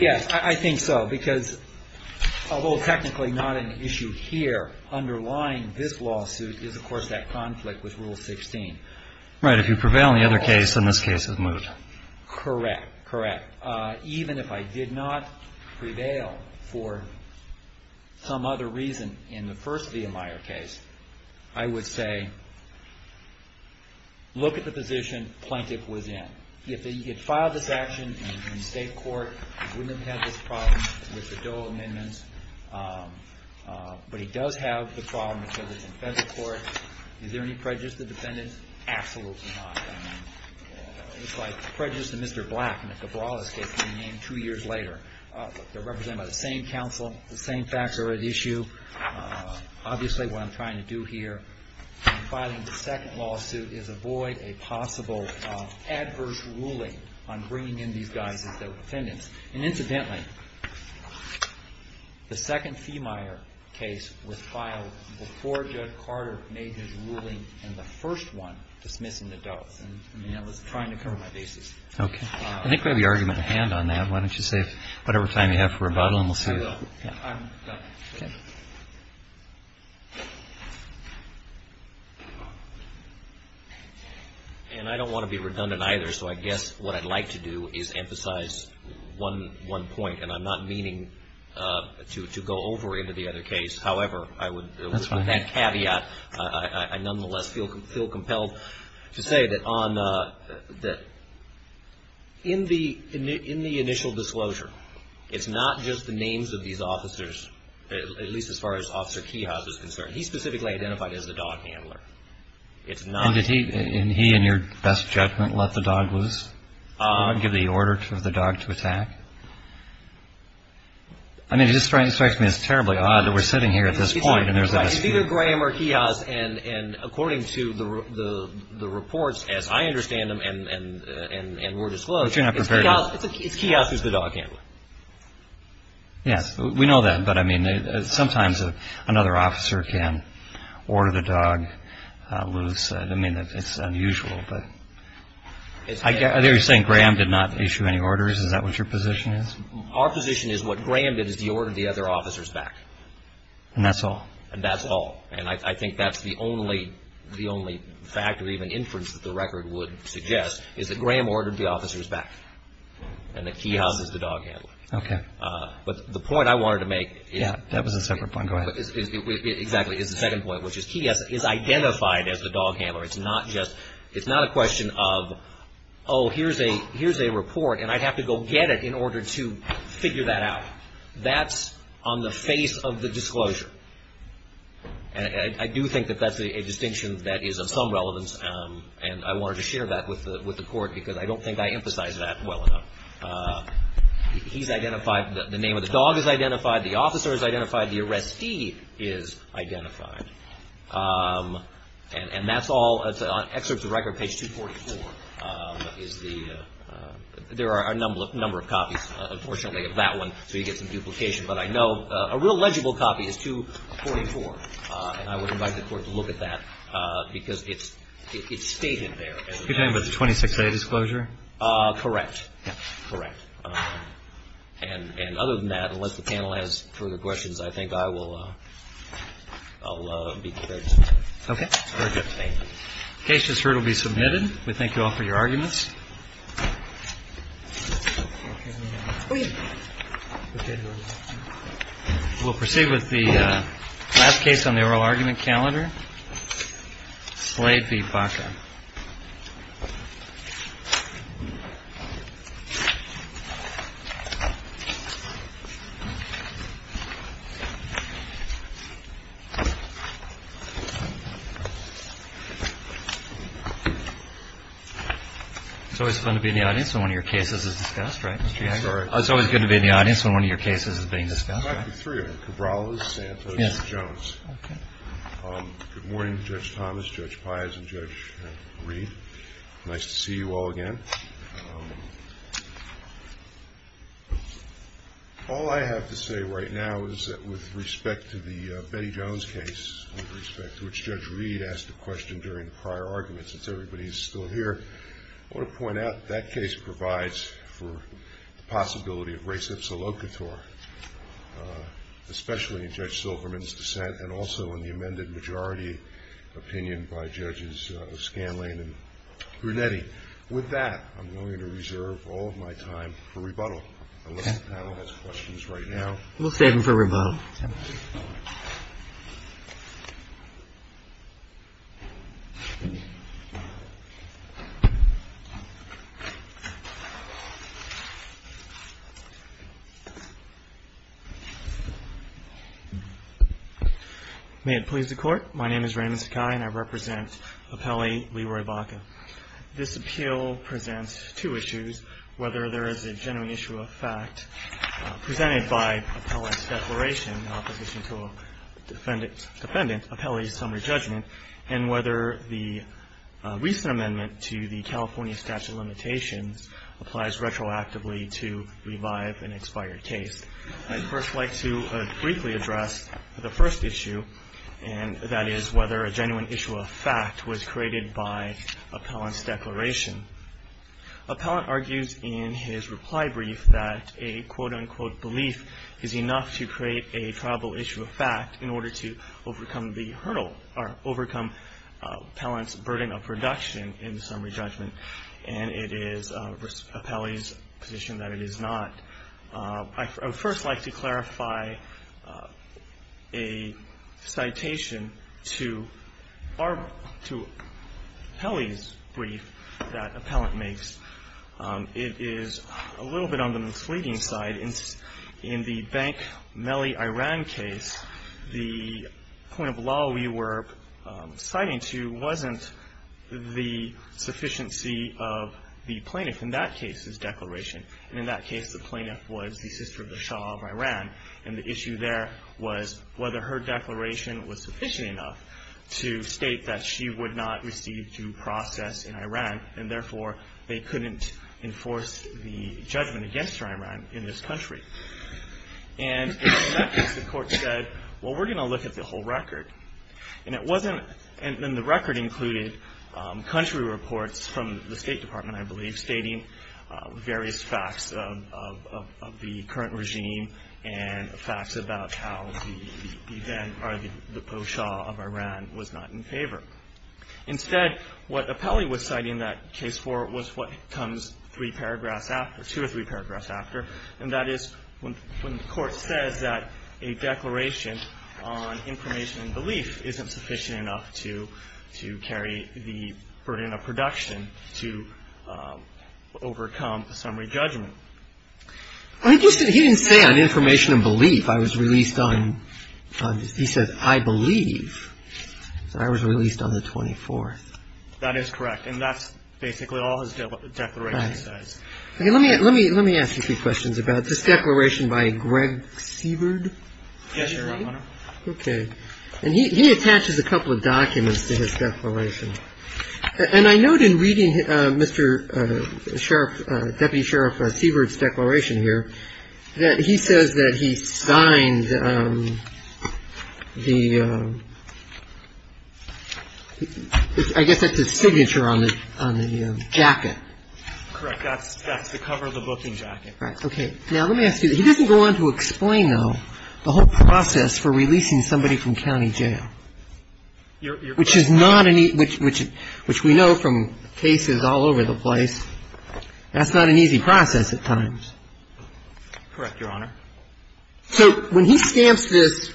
Yes, I think so, because although technically not an issue here, underlying this lawsuit is of course that conflict with Rule 16. Right, if you prevail in the other case, then this case is moot. Correct, correct. Even if I did not prevail for some other reason in the first Vehemeyer case, I would say, look at the position Plaintiff was in. If he had filed this action in state court, he wouldn't have had this problem with the dual amendments. But he does have the problem with the defense court. Is there any prejudice to defendants? Absolutely not. It's like prejudice to Mr. Black, and if the brawl escapes me two years later. They're represented by the same counsel, the same facts are at issue. Obviously what I'm trying to do here in filing the second lawsuit is avoid a possible adverse ruling on bringing in these guys as defendants. And incidentally, the second Vehemeyer case was filed before Judge Carter made his ruling in the first one dismissing the Doe. And I was trying to cover my bases. Okay. I think we have the argument at hand on that. Why don't you save whatever time you have for rebuttal and we'll see. I will. I'm done. And I don't want to be redundant either, so I guess what I'd like to do is emphasize one point, and I'm not meaning to go over into the other case. However, with that caveat, I nonetheless feel compelled to say that in the initial disclosure, it's not just the names of these officers, at least as far as Officer Keyhouse is concerned. He's specifically identified as the dog handler. And did he, in your best judgment, let the dog loose? Give the order for the dog to attack? I mean, it just strikes me as terribly odd that we're sitting here at this point and there's a dispute. He's either Graham or Keyhouse, and according to the reports, as I understand them and were disclosed, it's Keyhouse who's the dog handler. Yes. We know that. But, I mean, sometimes another officer can order the dog loose. I don't mean that it's unusual, but are you saying Graham did not issue any orders? Is that what your position is? Our position is what Graham did is he ordered the other officers back. And that's all? And that's all. And I think that's the only fact or even inference that the record would suggest, is that Graham ordered the officers back and that Keyhouse is the dog handler. Okay. But the point I wanted to make is the second point, which is Keyhouse is identified as the dog handler. It's not a question of, oh, here's a report, and I'd have to go get it in order to figure that out. That's on the face of the disclosure. And I do think that that's a distinction that is of some relevance, and I wanted to share that with the Court because I don't think I emphasize that well enough. He's identified. The name of the dog is identified. The officer is identified. The arrestee is identified. And that's all on excerpts of record, page 244. There are a number of copies, unfortunately, of that one, so you get some duplication. But I know a real legible copy is 244, and I would invite the Court to look at that because it's stated there. Are you talking about the 26A disclosure? Correct. Correct. And other than that, unless the panel has further questions, I think I will be prepared to answer. Okay. Very good. Thank you. The case just heard will be submitted. We thank you all for your arguments. We'll proceed with the last case on the oral argument calendar, Slade v. Baca. It's always fun to be in the audience when one of your cases is discussed, right, Mr. Hager? It's always good to be in the audience when one of your cases is being discussed. It might be three of them, Cabrales, Santos, and Jones. Okay. Good morning, Judge Thomas, Judge Paez, and Judge Reed. Nice to see you all again. All I have to say right now is that with respect to the Betty Jones case, with respect to which Judge Reed asked a question during the prior argument since everybody is still here, I want to point out that that case provides for the possibility of res ipsa locator, especially in Judge Silverman's dissent and also in the amended majority opinion by Judges Scanlane and Brunetti. With that, I'm going to reserve all of my time for rebuttal, unless the panel has questions right now. We'll stand for rebuttal. May it please the Court. My name is Raymond Sakai, and I represent appellee Leroy Baca. This appeal presents two issues, whether there is a genuine issue of fact presented by appellee's declaration in opposition to a defendant, appellee's summary judgment, and whether the recent amendment to the California statute of limitations applies retroactively to revive an expired case. I'd first like to briefly address the first issue, and that is whether a genuine issue of fact was created by appellant's declaration. Appellant argues in his reply brief that a quote-unquote belief is enough to create a probable issue of fact in order to overcome the hurdle or overcome appellant's burden of production in the summary judgment, and it is appellee's position that it is not. I would first like to clarify a citation to our – to appellee's brief that appellant makes. It is a little bit on the misleading side. In the Bank-Mehli-Iran case, the point of law we were citing to wasn't the sufficiency of the plaintiff in that case's declaration. And in that case, the plaintiff was the sister of the Shah of Iran, and the issue there was whether her declaration was sufficient enough to state that she would not receive due process in Iran, and therefore, they couldn't enforce the judgment against her in Iran in this country. And in that case, the court said, well, we're going to look at the whole record. And it wasn't – and the record included country reports from the State Department, I believe, stating various facts of the current regime and facts about how the then – or the po-shah of Iran was not in favor. Instead, what appellee was citing that case for was what comes three paragraphs after – two or three paragraphs after, and that is when the court says that a declaration on information and belief isn't sufficient enough to carry the burden of production to overcome the summary judgment. I just – he didn't say on information and belief. I was released on – he said, I believe. I was released on the 24th. That is correct. And that's basically all his declaration says. Let me ask you a few questions about this declaration by Greg Siebert. Yes, Your Honor. Okay. And he attaches a couple of documents to his declaration. And I note in reading Mr. Sheriff – Deputy Sheriff Siebert's declaration here that he says that he signed the – I guess that's his signature on the jacket. Correct. That's the cover of the booking jacket. Right. Okay. Now, let me ask you – he doesn't go on to explain, though, the whole process for releasing somebody from county jail, which is not an – which we know from cases all over the place. That's not an easy process at times. Correct, Your Honor. So when he stamps this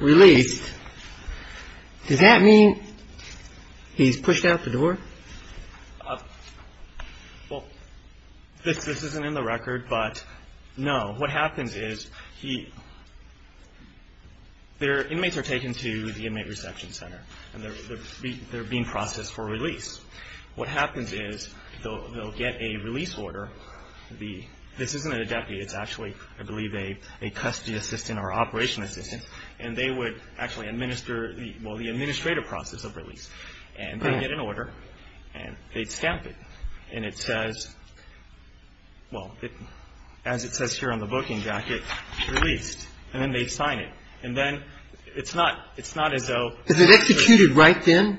release, does that mean he's pushed out the door? Well, this isn't in the record, but no. What happens is he – their inmates are taken to the Inmate Reception Center, and they're being processed for release. What happens is they'll get a release order. This isn't a deputy. It's actually, I believe, a custody assistant or operation assistant. And they would actually administer – well, the administrative process of release. And they'd get an order, and they'd stamp it. And it says – well, as it says here on the booking jacket, released. And then they'd sign it. And then it's not as though – Is it executed right then,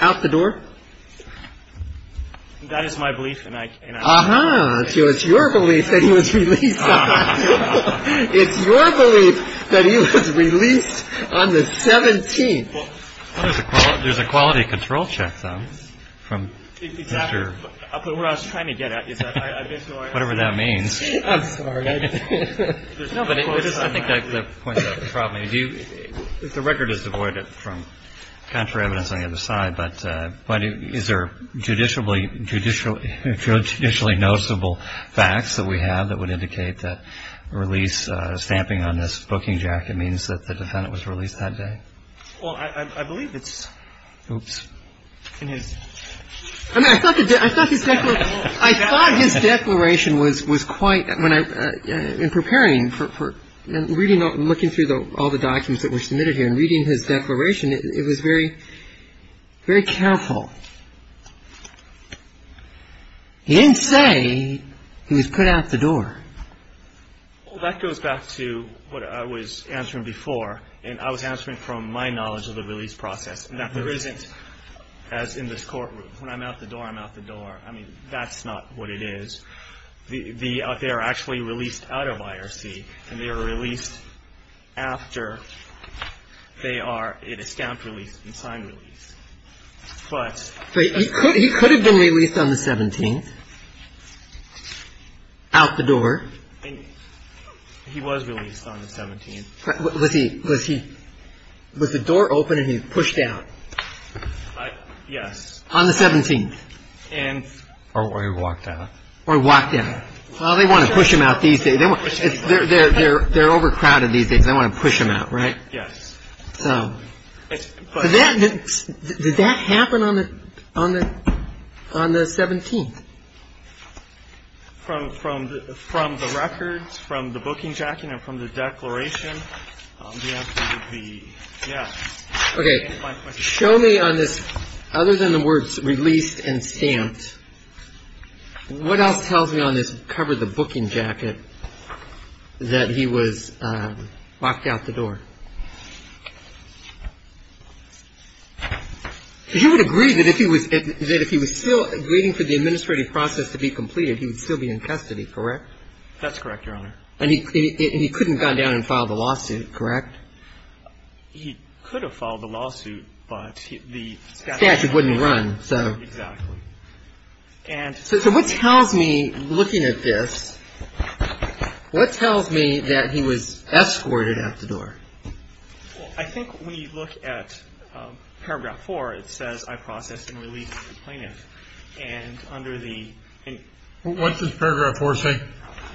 out the door? That is my belief, and I – Ah-ha. So it's your belief that he was released. It's your belief that he was released on the 17th. Well, there's a quality control check, though, from Mr. – Exactly. What I was trying to get at is that I basically – Whatever that means. I'm sorry. No, but it is – I think that points out the problem. If the record is devoid from counter-evidence on the other side, but is there judicially noticeable facts that we have that would indicate that release stamping on this booking jacket means that the defendant was released that day? Well, I believe it's – Oops. In his – I thought his declaration was quite – in preparing for – and looking through all the documents that were submitted here, and reading his declaration, it was very careful. He didn't say he was put out the door. Well, that goes back to what I was answering before, and I was answering from my knowledge of the release process, and that there isn't, as in this courtroom, when I'm out the door, I'm out the door. I mean, that's not what it is. They are actually released out of IRC, and they are released after they are in a stamped release and signed release. But – Out the door. He was released on the 17th. Was he – was the door open and he pushed out? Yes. On the 17th. And – Or walked out. Or walked out. Well, they want to push him out these days. They're overcrowded these days. They want to push him out, right? Yes. Did that happen on the 17th? From the records, from the booking jacket, and from the declaration, yes. Okay. Show me on this, other than the words released and stamped, What else tells me on this, cover the booking jacket, that he was locked out the door? Because you would agree that if he was still waiting for the administrative process to be completed, he would still be in custody, correct? That's correct, Your Honor. And he couldn't have gone down and filed a lawsuit, correct? He could have filed a lawsuit, but the statute wouldn't run, so. Exactly. And – So what tells me, looking at this, what tells me that he was escorted out the door? Well, I think when you look at Paragraph 4, it says, I process and release plaintiff. And under the – What does Paragraph 4 say?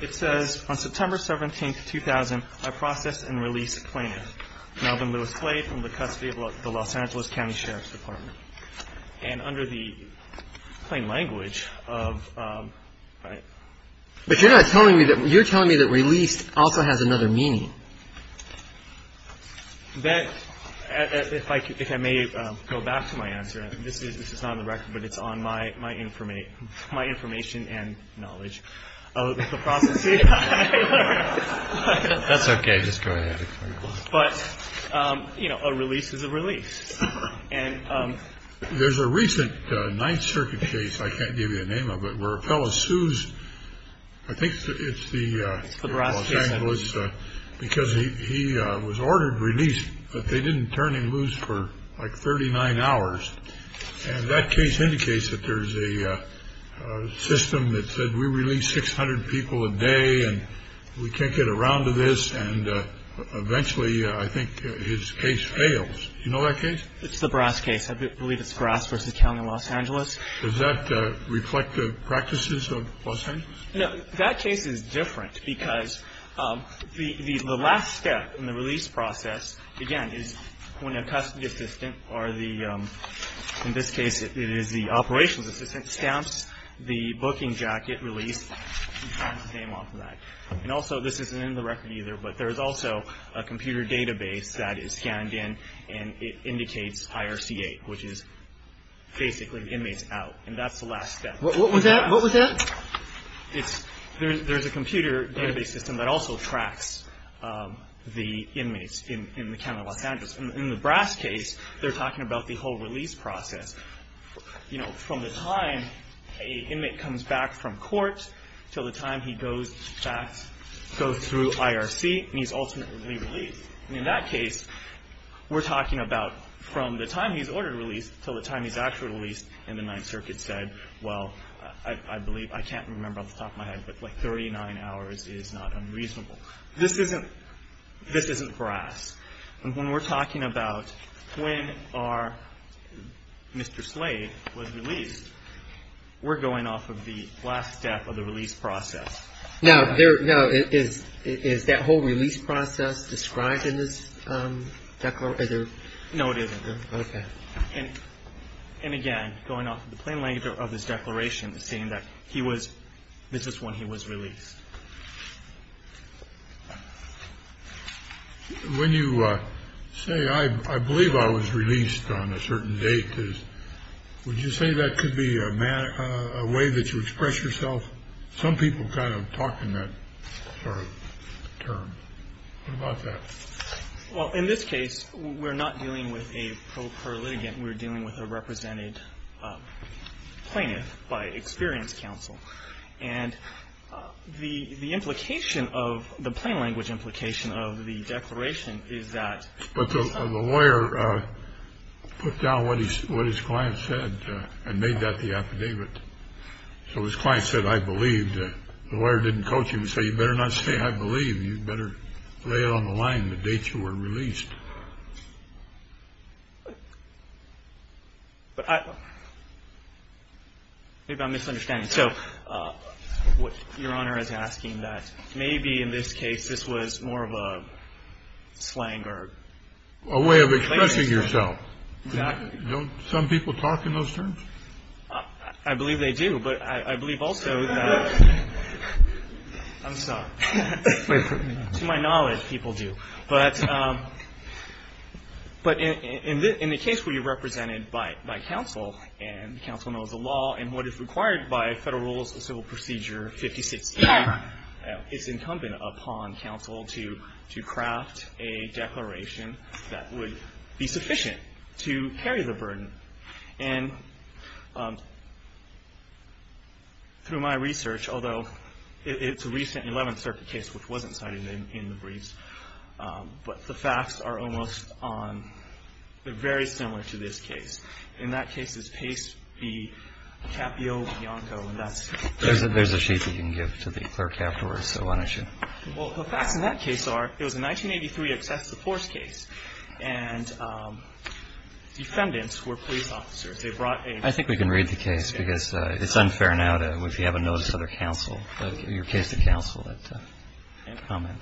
It says, On September 17, 2000, I process and release plaintiff, Melvin Lewis Clay, from the custody of the Los Angeles County Sheriff's Department. And under the plain language of – But you're not telling me that – you're telling me that released also has another meaning. That – if I may go back to my answer. This is not on the record, but it's on my information and knowledge of the process. That's okay. Just go ahead. But, you know, a release is a release. There's a recent Ninth Circuit case, I can't give you the name of it, where a fellow sues – I think it's the Los Angeles – It's the Barras case. Because he was ordered released, but they didn't turn him loose for like 39 hours. And that case indicates that there's a system that said, we release 600 people a day and we can't get around to this. And eventually, I think, his case fails. Do you know that case? It's the Barras case. I believe it's Barras v. County of Los Angeles. Does that reflect the practices of Los Angeles? No. That case is different because the last step in the release process, again, is when a custody assistant or the – in this case, it is the operations assistant – stamps the booking jacket release and signs the name off of that. And also, this isn't in the record either, but there's also a computer database that is scanned in and it indicates IRC-8, which is basically inmates out. And that's the last step. What was that? What was that? There's a computer database system that also tracks the inmates in the County of Los Angeles. In the Barras case, they're talking about the whole release process. You know, from the time an inmate comes back from court until the time he goes back – goes through IRC and he's ultimately released. And in that case, we're talking about from the time he's ordered release until the time he's actually released and the Ninth Circuit said, well, I believe – I can't remember off the top of my head, but like 39 hours is not unreasonable. This isn't – this isn't Barras. And when we're talking about when our Mr. Slade was released, we're going off of the last step of the release process. Now, is that whole release process described in this declaration? No, it isn't. Okay. And again, going off the plain language of this declaration, saying that he was – this is when he was released. When you say, I believe I was released on a certain date, would you say that could be a way that you express yourself? Some people kind of talk in that sort of term. What about that? Well, in this case, we're not dealing with a pro per litigant. We're dealing with a represented plaintiff by experience counsel. And the implication of – the plain language implication of the declaration is that – But the lawyer put down what his client said and made that the affidavit. So his client said, I believe. The lawyer didn't coach him. He said, you better not say I believe. You better lay it on the line, the dates you were released. But I – maybe I'm misunderstanding. So Your Honor is asking that maybe in this case, this was more of a slang or – A way of expressing yourself. Exactly. Don't some people talk in those terms? I believe they do. But I believe also that – I'm sorry. To my knowledge, people do. But in the case where you're represented by counsel and counsel knows the law and what is required by Federal Rules of Civil Procedure 56E, it's incumbent upon counsel to craft a declaration that would be sufficient to carry the burden. And through my research, although it's a recent 11th Circuit case which wasn't cited in the briefs, but the facts are almost on – they're very similar to this case. In that case, it's case B, Capio-Bianco, and that's – There's a sheet you can give to the clerk afterwards. So why don't you – Well, the facts in that case are it was a 1983 excessive force case, and defendants were police officers. They brought a – I think we can read the case because it's unfair now to – if you haven't noticed other counsel, your case to counsel, that comment.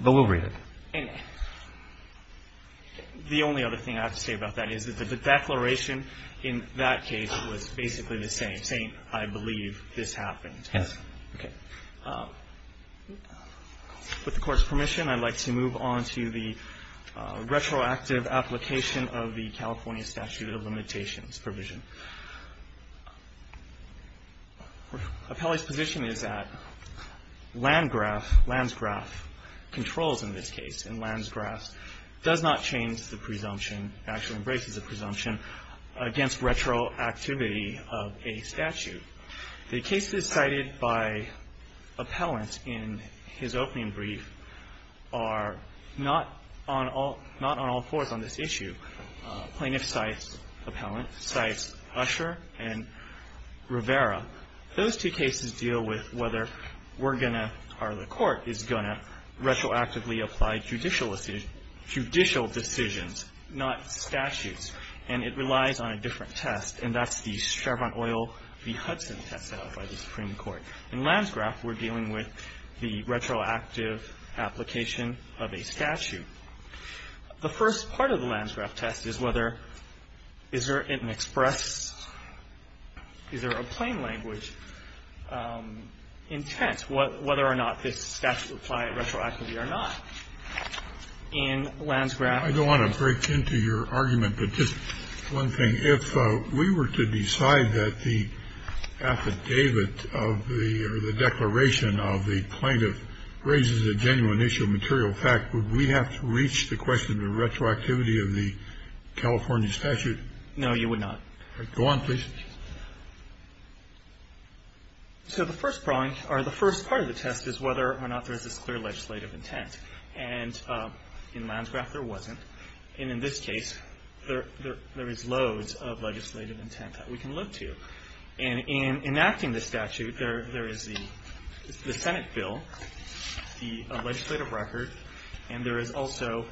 But we'll read it. And the only other thing I have to say about that is that the declaration in that case was basically the same, saying, I believe this happened. Yes. Okay. With the Court's permission, I'd like to move on to the retroactive application of the California statute of limitations provision. Appellee's position is that Landgraf, Landsgraf controls in this case, and Landsgraf does not change the presumption, actually embraces the presumption against retroactivity of a statute. The cases cited by Appellant in his opening brief are not on all – not on all fours on this issue. Plaintiff cites Appellant, cites Usher and Rivera. Those two cases deal with whether we're going to – or the Court is going to retroactively apply judicial decisions, not statutes. And it relies on a different test, and that's the Chevron Oil v. Hudson test set out by the Supreme Court. In Landgraf, we're dealing with the retroactive application of a statute. The first part of the Landgraf test is whether – is there an express – is there a plain language intent, whether or not this statute applied retroactively or not. In Landgraf – I don't want to break into your argument, but just one thing. If we were to decide that the affidavit of the – or the declaration of the plaintiff raises a genuine issue of material fact, would we have to reach the question of retroactivity of the California statute? No, you would not. All right. Go on, please. So the first part of the test is whether or not there is this clear legislative intent. And in Landgraf, there wasn't. And in this case, there is loads of legislative intent that we can look to. And in enacting the statute, there is the Senate bill, the legislative record, and there is also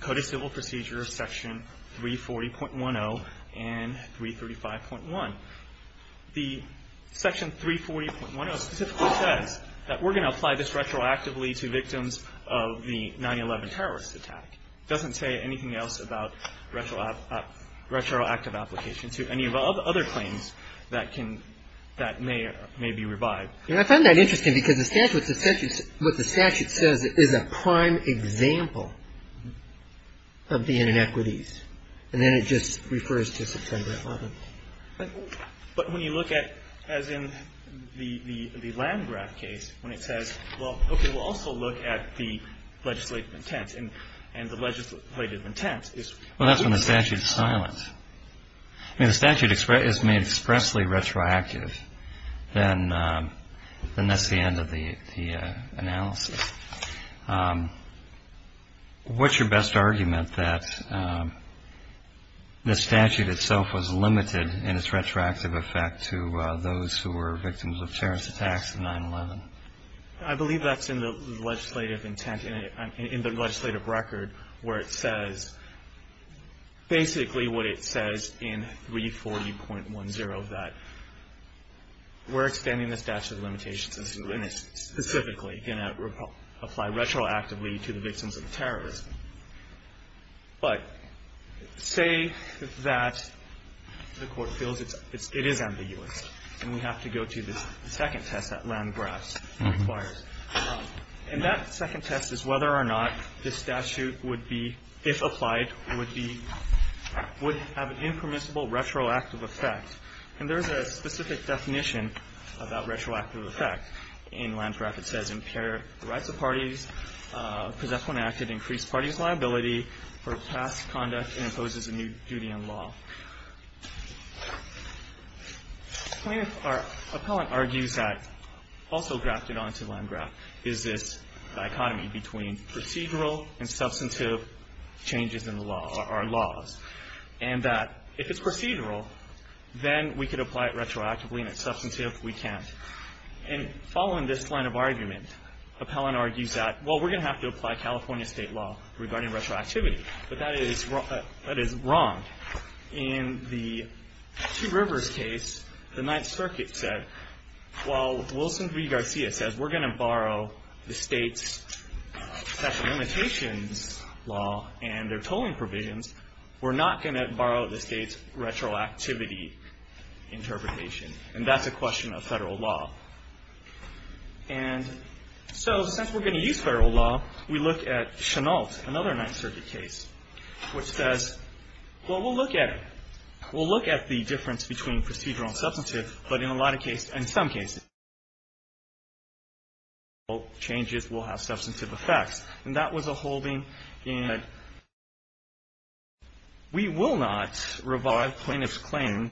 code of civil procedure section 340.10 and 335.1. The section 340.10 specifically says that we're going to apply this retroactively to victims of the 9-11 terrorist attack. It doesn't say anything else about retroactive application to any of the other claims that can – that may be revived. And I find that interesting because the statute – what the statute says is a prime example of the inequities. And then it just refers to September 11th. But when you look at, as in the Landgraf case, when it says, well, okay, we'll also look at the legislative intent. And the legislative intent is – Well, that's when the statute is silent. I mean, if the statute is made expressly retroactive, then that's the end of the analysis. What's your best argument that the statute itself was limited in its retroactive effect to those who were victims of terrorist attacks in 9-11? I believe that's in the legislative intent – in the legislative record where it says basically what it says in 340.10, that we're extending the statute of limitations and it's specifically going to apply retroactively to the victims of terrorism. But say that the Court feels it is ambiguous and we have to go to the second test that Landgraf requires. And that second test is whether or not this statute would be, if applied, would be – would have an impermissible retroactive effect. And there's a specific definition of that retroactive effect. In Landgraf it says impair the rights of parties, possess when acted increased parties' liability for past conduct and imposes a new duty on law. Appellant argues that – also grafted onto Landgraf – is this dichotomy between procedural and substantive changes in the law – or laws. And that if it's procedural, then we could apply it retroactively, and if it's substantive, we can't. And following this line of argument, Appellant argues that, well, we're going to have to apply California state law regarding retroactivity. But that is wrong. In the Two Rivers case, the Ninth Circuit said, well, Wilson v. Garcia says we're going to borrow the state's special limitations law and their tolling provisions. We're not going to borrow the state's retroactivity interpretation. And that's a question of federal law. And so since we're going to use federal law, we look at Chennault, another Ninth Circuit case, which says, well, we'll look at it. We'll look at the difference between procedural and substantive, but in a lot of cases, in some cases, procedural changes will have substantive effects. And that was a holding. And we will not revive plaintiff's claim.